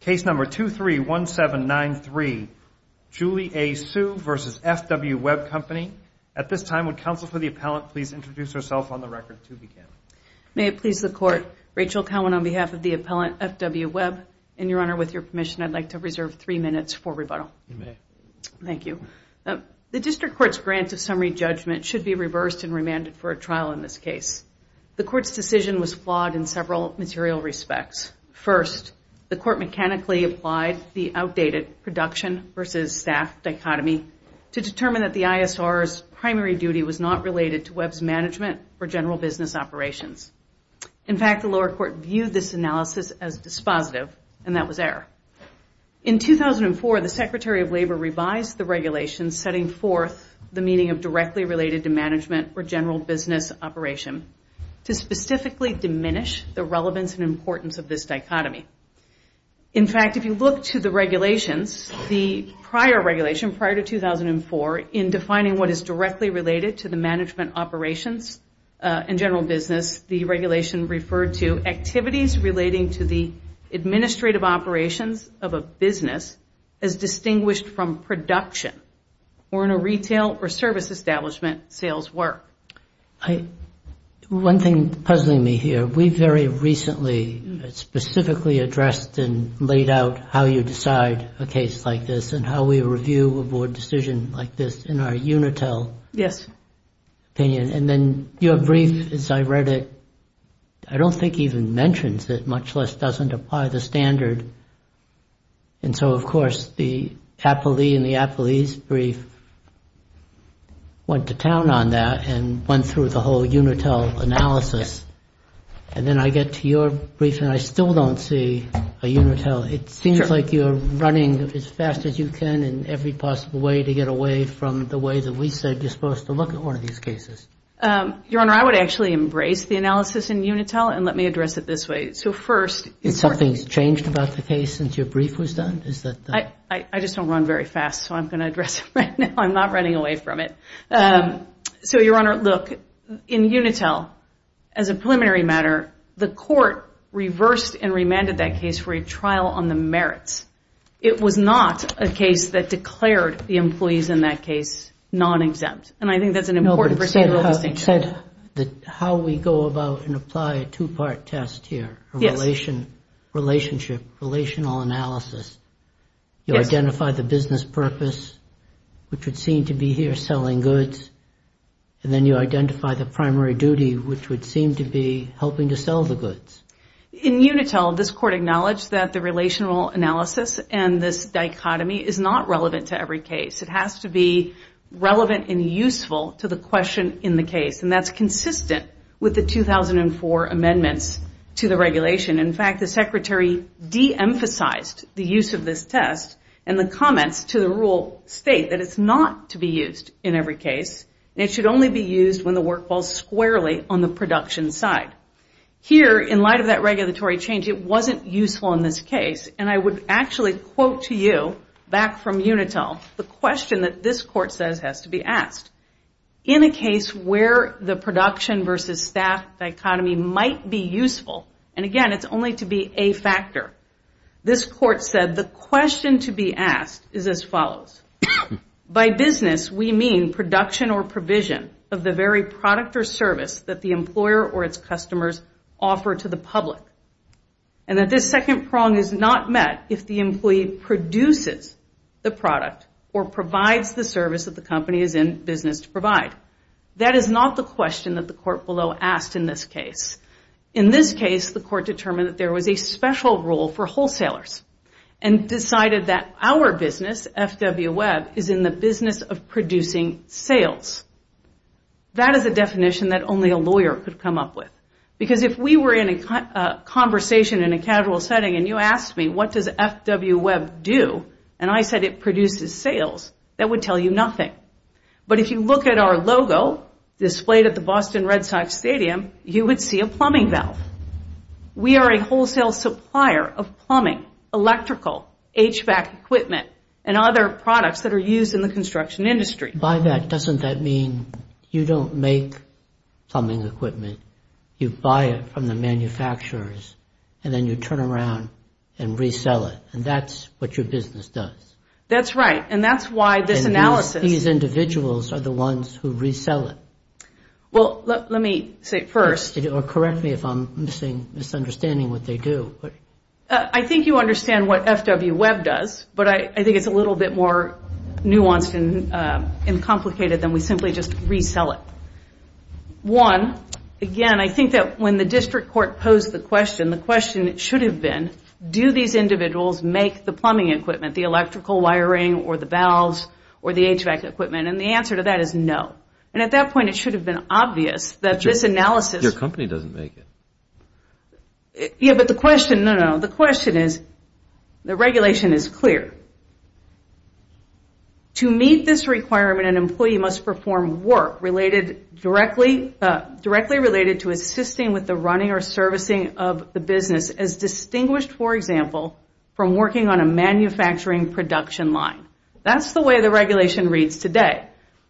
Case number 231793, Julie A. Sue v. F.W. Webb Company. At this time, would counsel for the appellant please introduce herself on the record to begin. May it please the Court. Rachel Cowen on behalf of the appellant, F.W. Webb. And, Your Honor, with your permission, I'd like to reserve three minutes for rebuttal. You may. Thank you. The District Court's grant of summary judgment should be reversed and remanded for a trial in this case. The Court's decision was flawed in several material respects. First, the Court mechanically applied the outdated production versus staff dichotomy to determine that the ISR's primary duty was not related to Webb's management or general business operations. In fact, the lower court viewed this analysis as dispositive, and that was error. In 2004, the Secretary of Labor revised the regulations setting forth the meaning of directly related to management or general business operation to specifically diminish the relevance and importance of this dichotomy. In fact, if you look to the regulations, the prior regulation prior to 2004, in defining what is directly related to the management operations and general business, the regulation referred to activities relating to the administrative operations of a business as distinguished from production or in a retail or service establishment sales work. One thing puzzling me here. We very recently specifically addressed and laid out how you decide a case like this and how we review a board decision like this in our UNITEL opinion. And then your brief, as I read it, I don't think even mentions it, much less doesn't apply the standard. And so, of course, the Apolli and the Apolli's brief went to town on that and went through the whole UNITEL analysis. And then I get to your brief, and I still don't see a UNITEL. It seems like you're running as fast as you can in every possible way to get away from the way that we said you're supposed to look at one of these cases. Your Honor, I would actually embrace the analysis in UNITEL, and let me address it this way. Has something changed about the case since your brief was done? I just don't run very fast, so I'm going to address it right now. I'm not running away from it. So, Your Honor, look, in UNITEL, as a preliminary matter, the court reversed and remanded that case for a trial on the merits. It was not a case that declared the employees in that case non-exempt. And I think that's an important procedural distinction. But how we go about and apply a two-part test here, a relationship, relational analysis, you identify the business purpose, which would seem to be here selling goods, and then you identify the primary duty, which would seem to be helping to sell the goods. In UNITEL, this court acknowledged that the relational analysis and this dichotomy is not relevant to every case. It has to be relevant and useful to the question in the case, and that's consistent with the 2004 amendments to the regulation. In fact, the Secretary de-emphasized the use of this test, and the comments to the rule state that it's not to be used in every case, and it should only be used when the work falls squarely on the production side. Here, in light of that regulatory change, it wasn't useful in this case, and I would actually quote to you, back from UNITEL, the question that this court says has to be asked. In a case where the production versus staff dichotomy might be useful, and again, it's only to be a factor, this court said, the question to be asked is as follows. By business, we mean production or provision of the very product or service that the employer or its customers offer to the public. And that this second prong is not met if the employee produces the product or provides the service that the company is in business to provide. That is not the question that the court below asked in this case. In this case, the court determined that there was a special role for wholesalers, and decided that our business, FW Web, is in the business of producing sales. That is a definition that only a lawyer could come up with, because if we were in a conversation in a casual setting, and you asked me what does FW Web do, and I said it produces sales, that would tell you nothing. But if you look at our logo, displayed at the Boston Red Sox Stadium, you would see a plumbing valve. We are a wholesale supplier of plumbing, electrical, HVAC equipment, and other products that are used in the construction industry. By that, doesn't that mean you don't make plumbing equipment? You buy it from the manufacturers, and then you turn around and resell it. And that's what your business does. That's right, and that's why this analysis... And these individuals are the ones who resell it. Well, let me say first... Correct me if I'm misunderstanding what they do. I think you understand what FW Web does, but I think it's a little bit more nuanced and complicated than we simply just resell it. One, again, I think that when the district court posed the question, the question should have been, do these individuals make the plumbing equipment, the electrical wiring, or the valves, or the HVAC equipment? And the answer to that is no. And at that point, it should have been obvious that this analysis... Your company doesn't make it. Yeah, but the question... To meet this requirement, an employee must perform work directly related to assisting with the running or servicing of the business as distinguished, for example, from working on a manufacturing production line. That's the way the regulation reads today.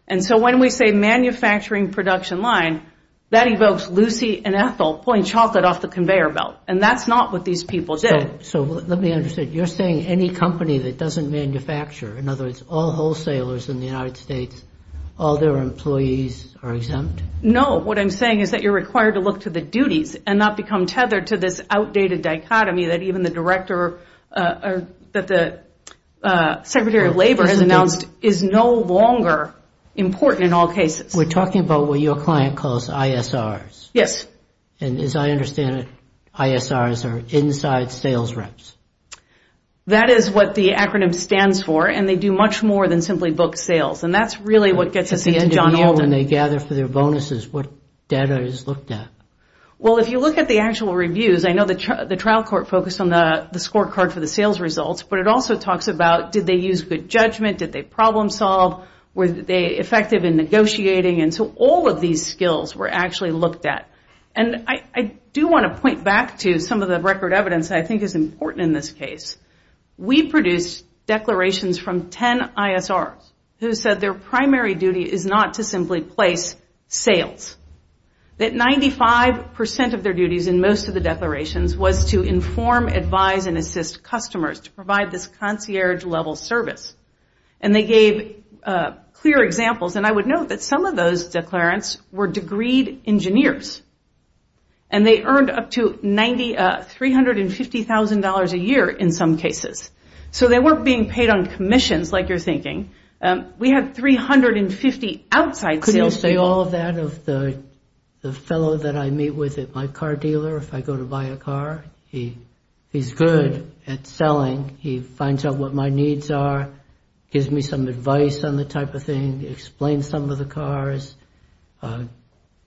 And so when we say manufacturing production line, that evokes Lucy and Ethel pulling chocolate off the conveyor belt, and that's not what these people did. So let me understand. You're saying any company that doesn't manufacture, in other words, all wholesalers in the United States, all their employees are exempt? No. What I'm saying is that you're required to look to the duties and not become tethered to this outdated dichotomy that even the director or that the Secretary of Labor has announced is no longer important in all cases. We're talking about what your client calls ISRs. Yes. And as I understand it, ISRs are inside sales reps. That is what the acronym stands for, and they do much more than simply book sales, and that's really what gets us into John Alden. At the end of the year when they gather for their bonuses, what data is looked at? Well, if you look at the actual reviews, I know the trial court focused on the scorecard for the sales results, but it also talks about did they use good judgment, did they problem solve, were they effective in negotiating, and so all of these skills were actually looked at. And I do want to point back to some of the record evidence that I think is important in this case. We produced declarations from ten ISRs who said their primary duty is not to simply place sales, that 95% of their duties in most of the declarations was to inform, advise, and assist customers to provide this concierge-level service. And they gave clear examples, and I would note that some of those declarants were degreed engineers, and they earned up to $350,000 a year in some cases. So they weren't being paid on commissions like you're thinking. We had 350 outside salespeople. Could you say all of that of the fellow that I meet with at my car dealer? If I go to buy a car, he's good at selling. He finds out what my needs are, gives me some advice on the type of thing, explains some of the cars,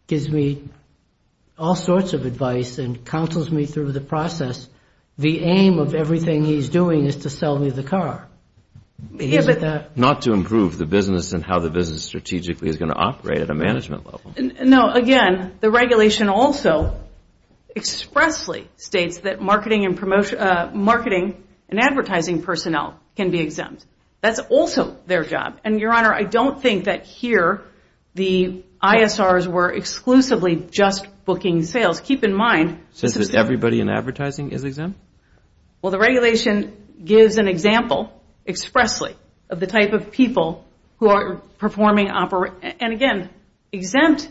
gives me all sorts of advice and counsels me through the process. The aim of everything he's doing is to sell me the car. Not to improve the business and how the business strategically is going to operate at a management level. No, again, the regulation also expressly states that marketing and advertising personnel can be exempt. That's also their job. And, Your Honor, I don't think that here the ISRs were exclusively just booking sales. Keep in mind. So does everybody in advertising is exempt? Well, the regulation gives an example expressly of the type of people who are performing operations. And, again, exempt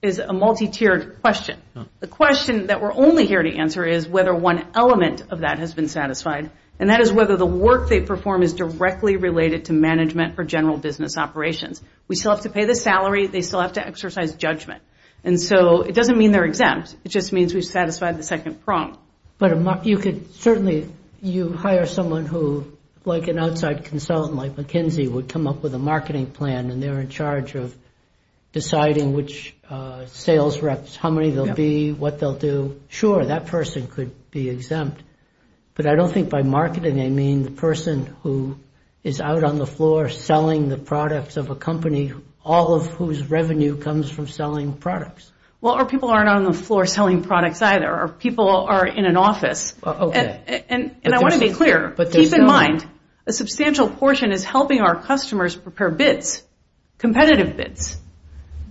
is a multi-tiered question. The question that we're only here to answer is whether one element of that has been satisfied, and that is whether the work they perform is directly related to management or general business operations. We still have to pay the salary. They still have to exercise judgment. And so it doesn't mean they're exempt. It just means we've satisfied the second prompt. But you could certainly hire someone who, like an outside consultant like McKinsey, would come up with a marketing plan and they're in charge of deciding which sales reps, how many they'll be, what they'll do. Sure, that person could be exempt. But I don't think by marketing I mean the person who is out on the floor selling the products of a company, all of whose revenue comes from selling products. Well, our people aren't on the floor selling products either. Our people are in an office. And I want to be clear. Keep in mind, a substantial portion is helping our customers prepare bids, competitive bids.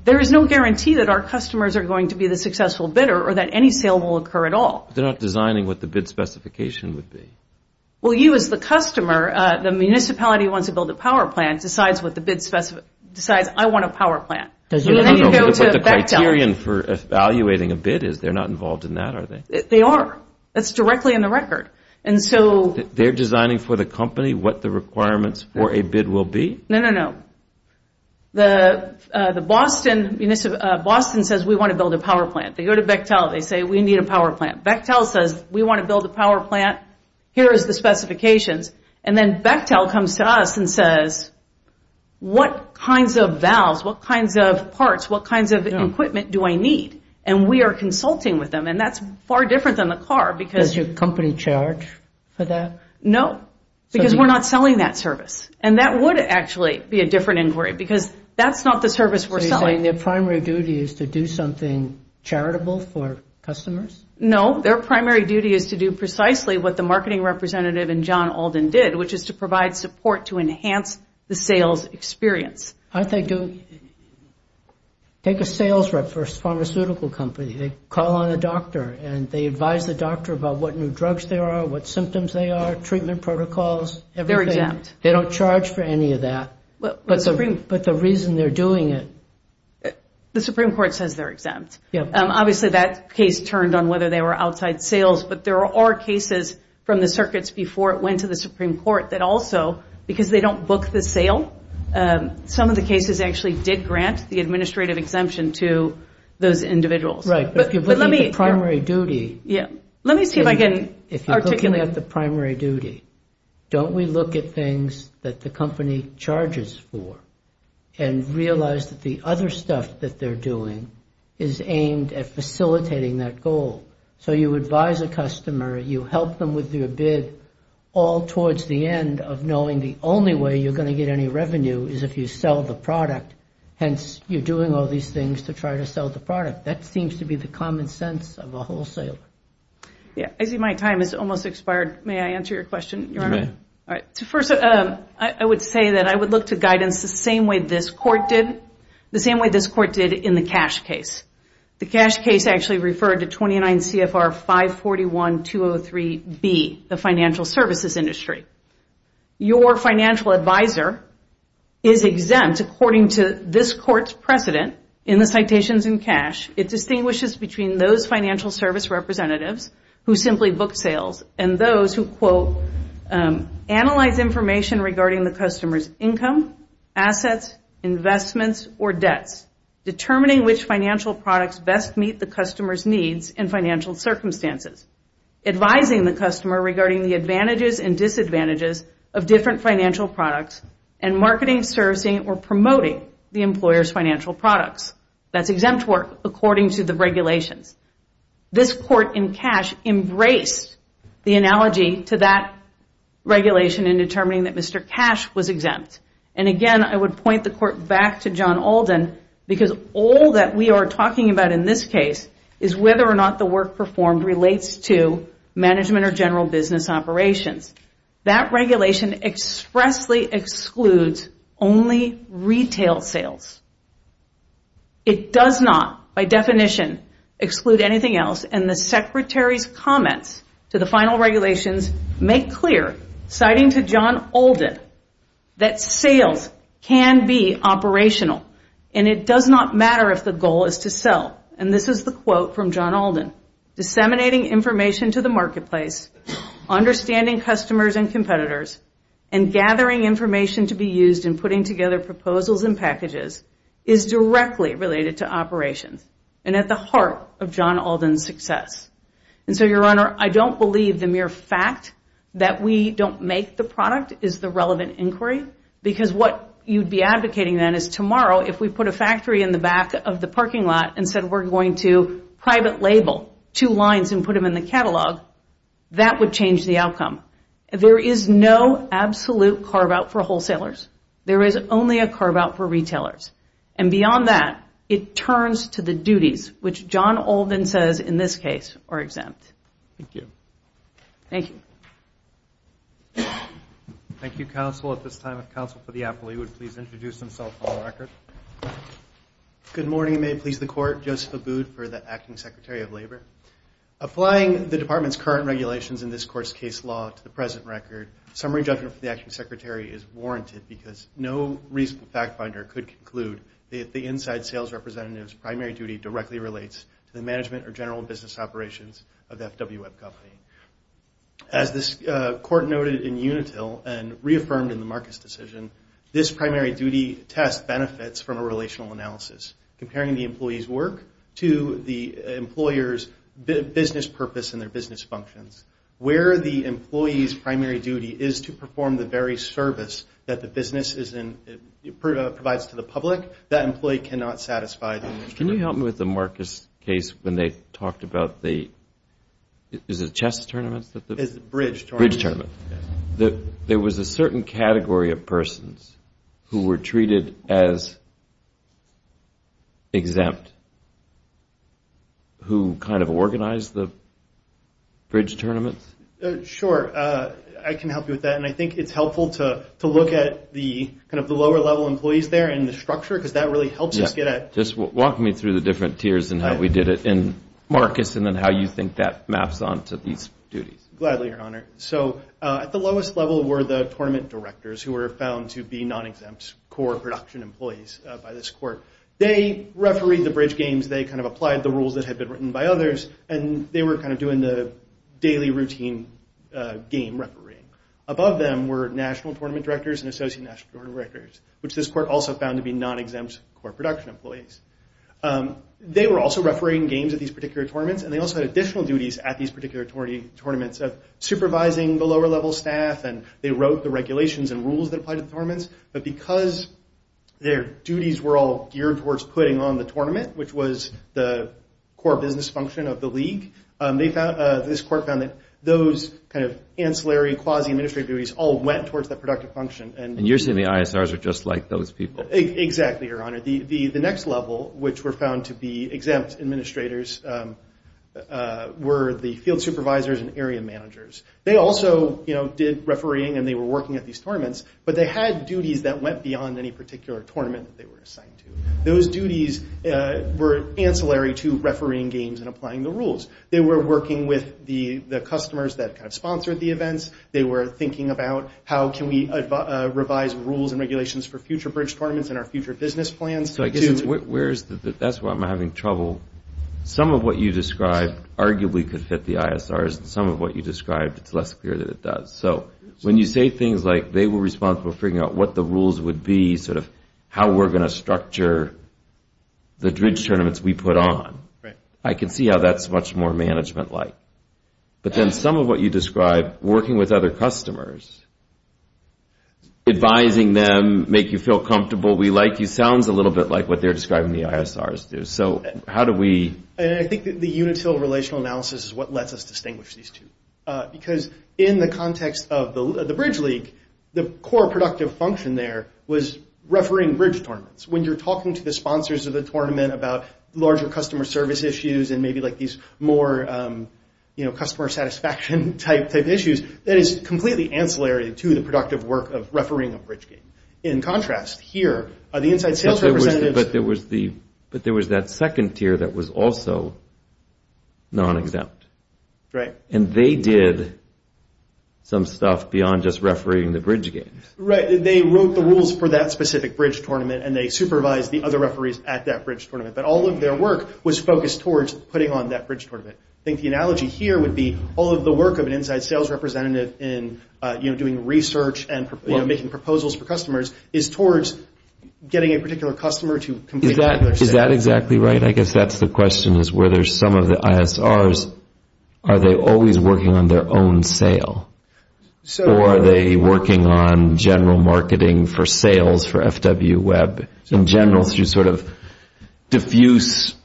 There is no guarantee that our customers are going to be the successful bidder or that any sale will occur at all. They're not designing what the bid specification would be. Well, you as the customer, the municipality wants to build a power plant, decides I want a power plant. No, no, what the criterion for evaluating a bid is. They're not involved in that, are they? They are. That's directly in the record. They're designing for the company what the requirements for a bid will be? No, no, no. The Boston says we want to build a power plant. They go to Bechtel, they say we need a power plant. Bechtel says we want to build a power plant. Here is the specifications. And then Bechtel comes to us and says what kinds of valves, what kinds of parts, what kinds of equipment do I need? And we are consulting with them, and that's far different than the car. Does your company charge for that? No, because we're not selling that service. And that would actually be a different inquiry, because that's not the service we're selling. You're saying their primary duty is to do something charitable for customers? No, their primary duty is to do precisely what the marketing representative and John Alden did, which is to provide support to enhance the sales experience. Aren't they doing? Take a sales rep for a pharmaceutical company. They call on a doctor, and they advise the doctor about what new drugs there are, what symptoms there are, treatment protocols, everything. They're exempt. They don't charge for any of that. But the reason they're doing it? The Supreme Court says they're exempt. Obviously, that case turned on whether they were outside sales, but there are cases from the circuits before it went to the Supreme Court that also, because they don't book the sale, some of the cases actually did grant the administrative exemption to those individuals. Right. If you're looking at the primary duty, don't we look at things that the company charges for and realize that the other stuff that they're doing is aimed at facilitating that goal? So you advise a customer, you help them with their bid, all towards the end of knowing the only way you're going to get any revenue is if you sell the product. Hence, you're doing all these things to try to sell the product. That seems to be the common sense of a wholesaler. Yeah. I see my time has almost expired. May I answer your question, Your Honor? You may. All right. First, I would say that I would look to guidance the same way this court did in the cash case. The cash case actually referred to 29 CFR 541-203B, the financial services industry. Your financial advisor is exempt according to this court's precedent in the citations in cash. It distinguishes between those financial service representatives who simply book sales and those who, quote, analyze information regarding the customer's income, assets, investments, or debts, determining which financial products best meet the customer's needs and financial circumstances, advising the customer regarding the advantages and disadvantages of different financial products, and marketing, servicing, or promoting the employer's financial products. That's exempt work according to the regulations. This court in cash embraced the analogy to that regulation in determining that Mr. Cash was exempt. And again, I would point the court back to John Alden because all that we are talking about in this case is whether or not the work performed relates to management or general business operations. That regulation expressly excludes only retail sales. It does not, by definition, exclude anything else. And the Secretary's comments to the final regulations make clear, citing to John Alden, that sales can be operational and it does not matter if the goal is to sell. And this is the quote from John Alden. Disseminating information to the marketplace, understanding customers and competitors, and gathering information to be used in putting together proposals and packages is directly related to operations and at the heart of John Alden's success. And so, Your Honor, I don't believe the mere fact that we don't make the product is the relevant inquiry because what you'd be advocating then is tomorrow if we put a factory in the back of the parking lot and said we're going to private label two lines and put them in the catalog, that would change the outcome. There is no absolute carve-out for wholesalers. There is only a carve-out for retailers. And beyond that, it turns to the duties, which John Alden says in this case are exempt. Thank you. Thank you. Thank you, Counsel. At this time, if Counsel for the Appellee would please introduce himself for the record. Good morning. May it please the Court. Joseph Abood for the Acting Secretary of Labor. Applying the Department's current regulations in this Court's case law to the present record, summary judgment for the Acting Secretary is warranted because no reasonable fact finder could conclude that the inside sales representative's primary duty directly relates to the management or general business operations of the FWWeb company. As this Court noted in Unitil and reaffirmed in the Marcus decision, this primary duty test benefits from a relational analysis, comparing the employee's work to the employer's business purpose and their business functions. Where the employee's primary duty is to perform the very service that the business provides to the public, that employee cannot satisfy that. Can you help me with the Marcus case when they talked about the, is it chess tournaments? Bridge tournament. Bridge tournament. There was a certain category of persons who were treated as exempt, who kind of organized the bridge tournaments? Sure. I can help you with that, and I think it's helpful to look at the kind of the lower level employees there and the structure because that really helps us get at. Just walk me through the different tiers and how we did it in Marcus and then how you think that maps on to these duties. Gladly, Your Honor. So at the lowest level were the tournament directors, who were found to be non-exempt core production employees by this Court. They refereed the bridge games. They kind of applied the rules that had been written by others, and they were kind of doing the daily routine game refereeing. Above them were national tournament directors and associate national tournament directors, which this Court also found to be non-exempt core production employees. They were also refereeing games at these particular tournaments, and they also had additional duties at these particular tournaments of supervising the lower level staff, and they wrote the regulations and rules that applied to the tournaments. But because their duties were all geared towards putting on the tournament, which was the core business function of the league, this Court found that those kind of ancillary quasi-administrative duties all went towards that productive function. And you're saying the ISRs are just like those people? Exactly, Your Honor. The next level, which were found to be exempt administrators, were the field supervisors and area managers. They also did refereeing, and they were working at these tournaments, but they had duties that went beyond any particular tournament that they were assigned to. Those duties were ancillary to refereeing games and applying the rules. They were working with the customers that kind of sponsored the events. They were thinking about how can we revise rules and regulations for future bridge tournaments and our future business plans? That's where I'm having trouble. Some of what you described arguably could fit the ISRs, and some of what you described, it's less clear that it does. So when you say things like they were responsible for figuring out what the rules would be, sort of how we're going to structure the bridge tournaments we put on, I can see how that's much more management-like. But then some of what you described, working with other customers, advising them, make you feel comfortable, we like you, sounds a little bit like what they're describing the ISRs do. So how do we... I think the unitil relational analysis is what lets us distinguish these two. Because in the context of the bridge league, the core productive function there was refereeing bridge tournaments. When you're talking to the sponsors of the tournament about larger customer service issues and maybe like these more customer satisfaction type issues, that is completely ancillary to the productive work of refereeing a bridge game. In contrast, here, the inside sales representatives... But there was that second tier that was also non-exempt. Right. And they did some stuff beyond just refereeing the bridge games. Right. They wrote the rules for that specific bridge tournament, and they supervised the other referees at that bridge tournament. But all of their work was focused towards putting on that bridge tournament. I think the analogy here would be all of the work of an inside sales representative in doing research and making proposals for customers is towards getting a particular customer to complete... Is that exactly right? I guess that's the question is whether some of the ISRs, are they always working on their own sale? Or are they working on general marketing for sales for FWWeb? In general, to sort of diffuse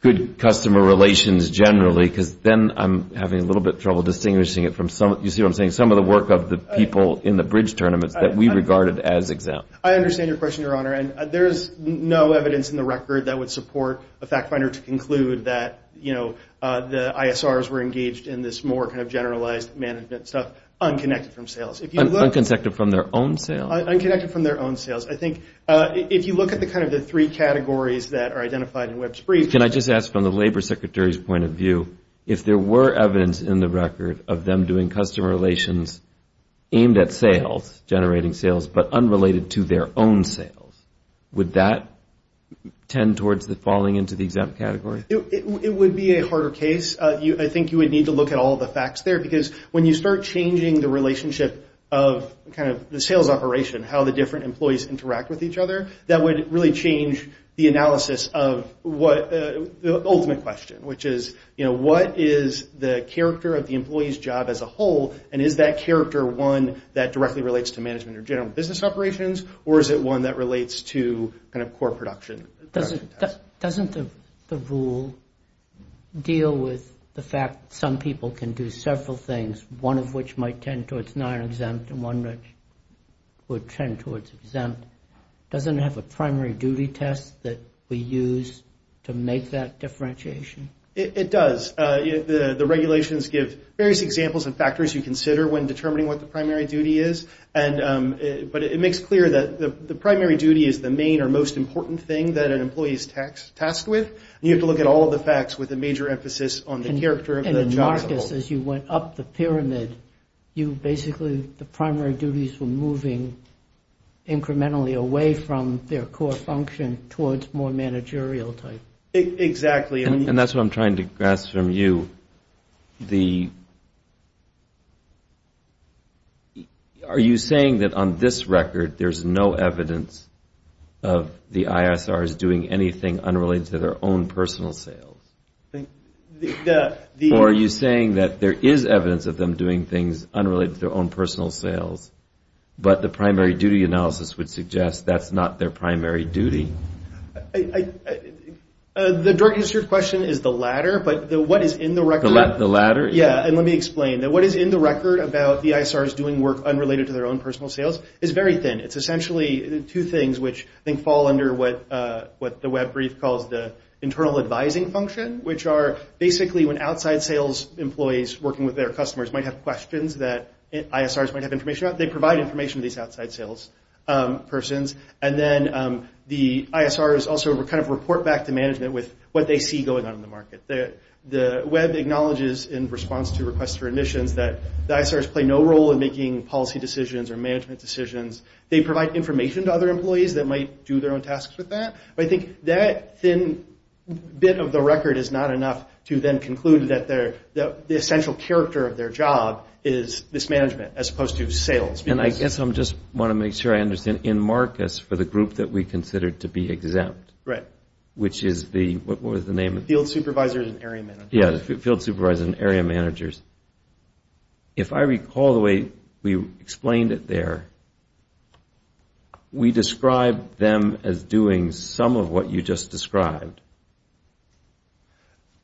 good customer relations generally, because then I'm having a little bit of trouble distinguishing it from some... You see what I'm saying? Some of the work of the people in the bridge tournaments that we regarded as exempt. I understand your question, Your Honor. And there's no evidence in the record that would support a fact finder to conclude that, you know, the ISRs were engaged in this more kind of generalized management stuff, unconnected from sales. Unconnected from their own sales? Unconnected from their own sales. I think if you look at the kind of the three categories that are identified in Web Spree... Can I just ask from the Labor Secretary's point of view, if there were evidence in the record of them doing customer relations aimed at sales, generating sales, but unrelated to their own sales, would that tend towards the falling into the exempt category? It would be a harder case. I think you would need to look at all the facts there, because when you start changing the relationship of kind of the sales operation, and how the different employees interact with each other, that would really change the analysis of the ultimate question, which is, you know, what is the character of the employee's job as a whole, and is that character one that directly relates to management or general business operations, or is it one that relates to kind of core production? Doesn't the rule deal with the fact that some people can do several things, one of which might tend towards non-exempt, and one which would tend towards exempt? Doesn't it have a primary duty test that we use to make that differentiation? It does. The regulations give various examples and factors you consider when determining what the primary duty is, but it makes clear that the primary duty is the main or most important thing that an employee is tasked with, and you have to look at all of the facts with a major emphasis on the character of the job as a whole. Because as you went up the pyramid, basically the primary duties were moving incrementally away from their core function towards more managerial type. Exactly. And that's what I'm trying to grasp from you. Are you saying that on this record, there's no evidence of the ISRs doing anything unrelated to their own personal sales? Or are you saying that there is evidence of them doing things unrelated to their own personal sales, but the primary duty analysis would suggest that's not their primary duty? The direct answer to your question is the latter, but what is in the record? The latter? Yeah, and let me explain. What is in the record about the ISRs doing work unrelated to their own personal sales is very thin. It's essentially two things, which I think fall under what the web brief calls the internal advising function, which are basically when outside sales employees working with their customers might have questions that ISRs might have information about, they provide information to these outside sales persons. And then the ISRs also kind of report back to management with what they see going on in the market. The web acknowledges in response to requests for admissions that the ISRs play no role in making policy decisions or management decisions. They provide information to other employees that might do their own tasks with that. But I think that thin bit of the record is not enough to then conclude that the essential character of their job is this management, as opposed to sales. And I guess I just want to make sure I understand. In Marcus, for the group that we considered to be exempt, which is the, what was the name? Field supervisors and area managers. Yeah, field supervisors and area managers. If I recall the way we explained it there, we described them as doing some of what you just described.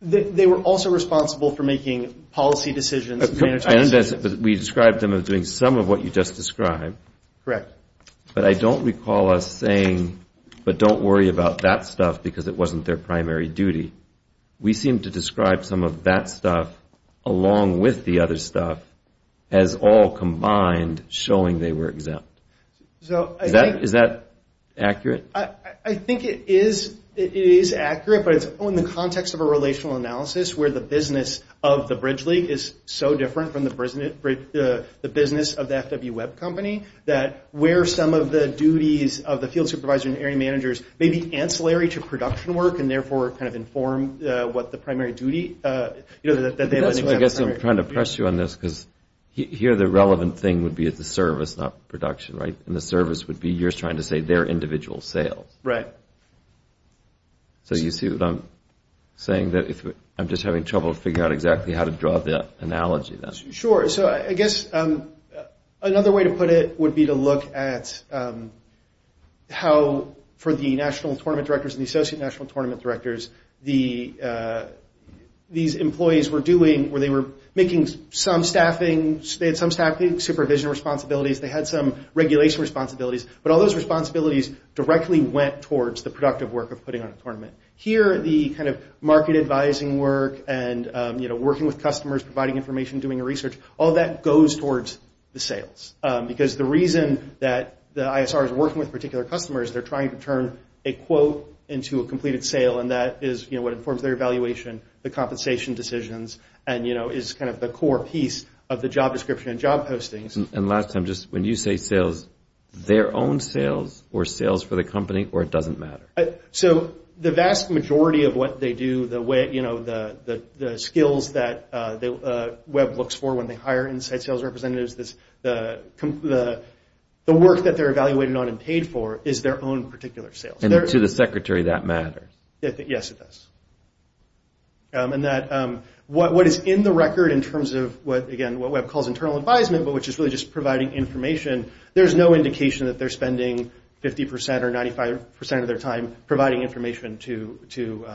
They were also responsible for making policy decisions and management decisions. We described them as doing some of what you just described. Correct. But I don't recall us saying, but don't worry about that stuff because it wasn't their primary duty. We seemed to describe some of that stuff along with the other stuff as all combined, showing they were exempt. Is that accurate? I think it is accurate, but it's in the context of a relational analysis where the business of the bridge league is so different from the business of the FW web company that where some of the duties of the field supervisor and area managers may be ancillary to production work and therefore kind of inform what the primary duty that they have. I guess I'm trying to press you on this because here the relevant thing would be at the service, not production, right? And the service would be yours trying to say their individual sales. Right. So you see what I'm saying? I'm just having trouble figuring out exactly how to draw that analogy then. Sure. So I guess another way to put it would be to look at how for the national tournament directors and the associate national tournament directors, these employees were doing where they were making some staffing, supervision responsibilities. They had some regulation responsibilities. But all those responsibilities directly went towards the productive work of putting on a tournament. Here the kind of market advising work and working with customers, providing information, doing research, all that goes towards the sales. Because the reason that the ISR is working with particular customers, they're trying to turn a quote into a completed sale, and that is what informs their evaluation, the compensation decisions, and is kind of the core piece of the job description and job postings. And last time, just when you say sales, their own sales or sales for the company or it doesn't matter? So the vast majority of what they do, the skills that Web looks for when they hire inside sales representatives, the work that they're evaluated on and paid for is their own particular sales. And to the secretary, that matters. Yes, it does. And that what is in the record in terms of, again, what Web calls internal advisement, there's no indication that they're spending 50% or 95% of their time providing information to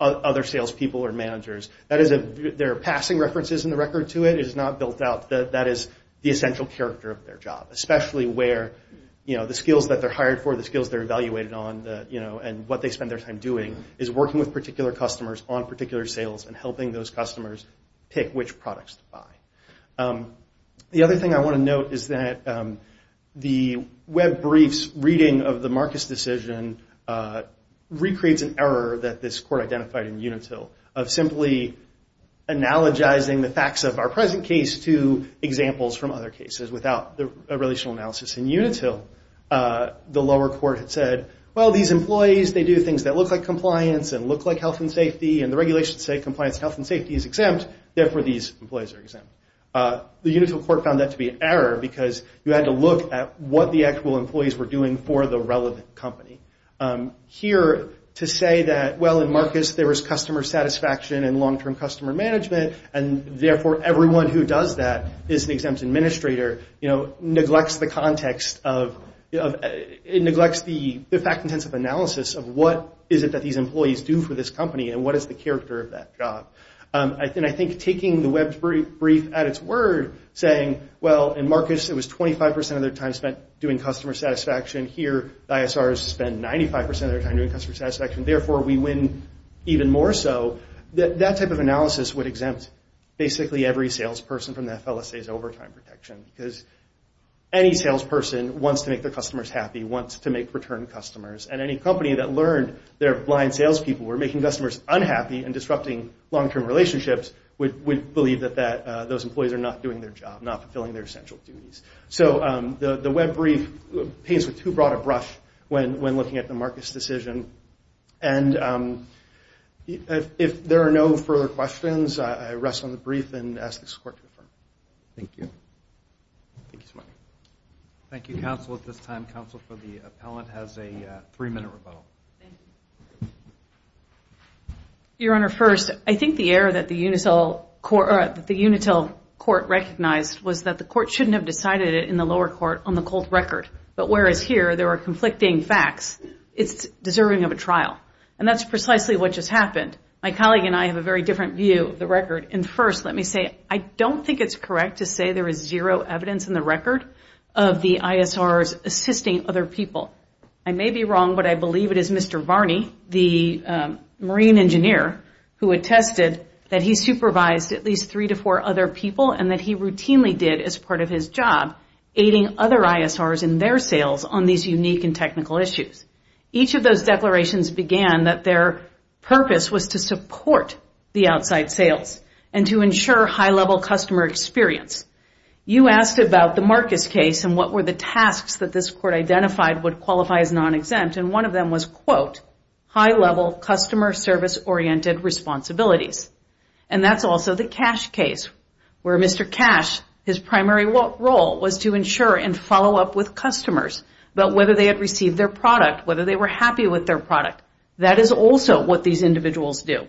other salespeople or managers. Their passing references in the record to it is not built out. That is the essential character of their job, especially where the skills that they're hired for, the skills they're evaluated on, and what they spend their time doing is working with particular customers on particular sales and helping those customers pick which products to buy. The other thing I want to note is that the Web brief's reading of the Marcus decision recreates an error that this court identified in Unitil, of simply analogizing the facts of our present case to examples from other cases without a relational analysis in Unitil. The lower court had said, well, these employees, they do things that look like compliance and look like health and safety, and the regulations say compliance, health, and safety is exempt, therefore these employees are exempt. The Unitil court found that to be an error because you had to look at what the actual employees were doing for the relevant company. Here, to say that, well, in Marcus there was customer satisfaction and long-term customer management, and therefore everyone who does that is an exempt administrator, you know, neglects the context of, it neglects the fact-intensive analysis of what is it that these employees do for this company and what is the character of that job. And I think taking the Web's brief at its word, saying, well, in Marcus it was 25% of their time spent doing customer satisfaction, here the ISRs spend 95% of their time doing customer satisfaction, therefore we win even more so, that type of analysis would exempt basically every salesperson from the FLSA's overtime protection because any salesperson wants to make their customers happy, wants to make return customers, and any company that learned their blind salespeople were making customers unhappy and disrupting long-term relationships, would believe that those employees are not doing their job, not fulfilling their essential duties. So the Web brief paints who brought a brush when looking at the Marcus decision, and if there are no further questions, I rest on the brief and ask this court to affirm. Thank you. Thank you so much. Thank you, counsel. At this time, counsel for the appellant has a three-minute rebuttal. Thank you. Your Honor, first, I think the error that the Unitel court recognized was that the court shouldn't have decided it in the lower court on the cold record, but whereas here there are conflicting facts, it's deserving of a trial, and that's precisely what just happened. My colleague and I have a very different view of the record, and first, let me say, I don't think it's correct to say there is zero evidence in the record of the ISRs assisting other people. I may be wrong, but I believe it is Mr. Varney, the marine engineer, who attested that he supervised at least three to four other people and that he routinely did as part of his job, aiding other ISRs in their sales on these unique and technical issues. Each of those declarations began that their purpose was to support the outside sales and to ensure high-level customer experience. You asked about the Marcus case and what were the tasks that this court identified would qualify as non-exempt, and one of them was, quote, high-level customer service-oriented responsibilities, and that's also the Cash case, where Mr. Cash, his primary role was to ensure and follow up with customers, about whether they had received their product, whether they were happy with their product. That is also what these individuals do,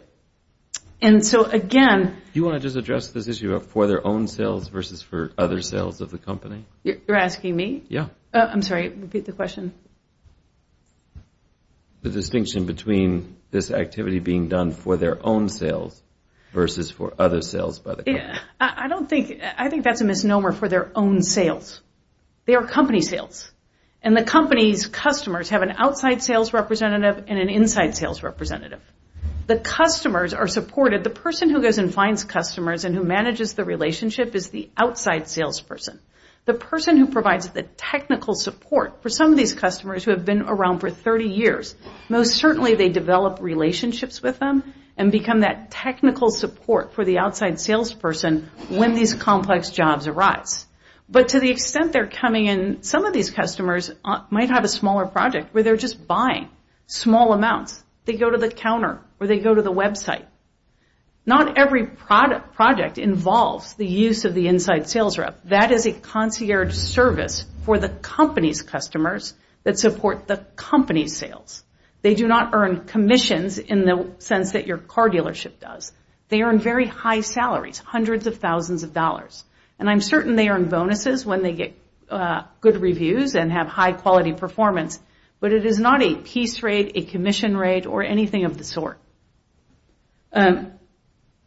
and so, again... Do you want to just address this issue of for their own sales versus for other sales of the company? You're asking me? Yeah. I'm sorry, repeat the question. The distinction between this activity being done for their own sales versus for other sales by the company. I think that's a misnomer for their own sales. They are company sales, and the company's customers have an outside sales representative and an inside sales representative. The customers are supported. The person who goes and finds customers and who manages the relationship is the outside salesperson. The person who provides the technical support for some of these customers who have been around for 30 years, most certainly they develop relationships with them and become that technical support for the outside salesperson when these complex jobs arise, but to the extent they're coming in, some of these customers might have a smaller project where they're just buying small amounts. They go to the counter or they go to the website. Not every project involves the use of the inside sales rep. That is a concierge service for the company's customers that support the company's sales. They do not earn commissions in the sense that your car dealership does. They earn very high salaries, hundreds of thousands of dollars, and I'm certain they earn bonuses when they get good reviews and have high-quality performance, but it is not a piece rate, a commission rate, or anything of the sort.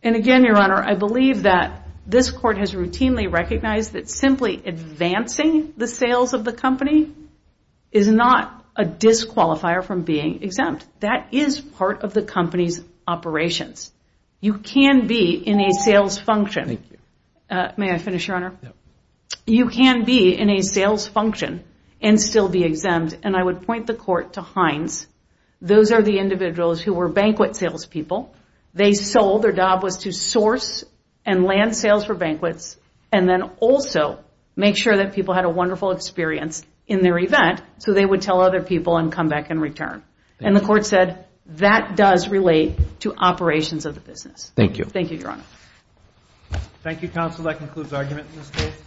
And again, Your Honor, I believe that this court has routinely recognized that simply advancing the sales of the company is not a disqualifier from being exempt. That is part of the company's operations. You can be in a sales function. May I finish, Your Honor? You can be in a sales function and still be exempt, and I would point the court to Hines. Those are the individuals who were banquet salespeople. They sold. Their job was to source and land sales for banquets and then also make sure that people had a wonderful experience in their event so they would tell other people and come back and return. And the court said that does relate to operations of the business. Thank you. Thank you, Your Honor. Thank you, counsel. That concludes argument in this case.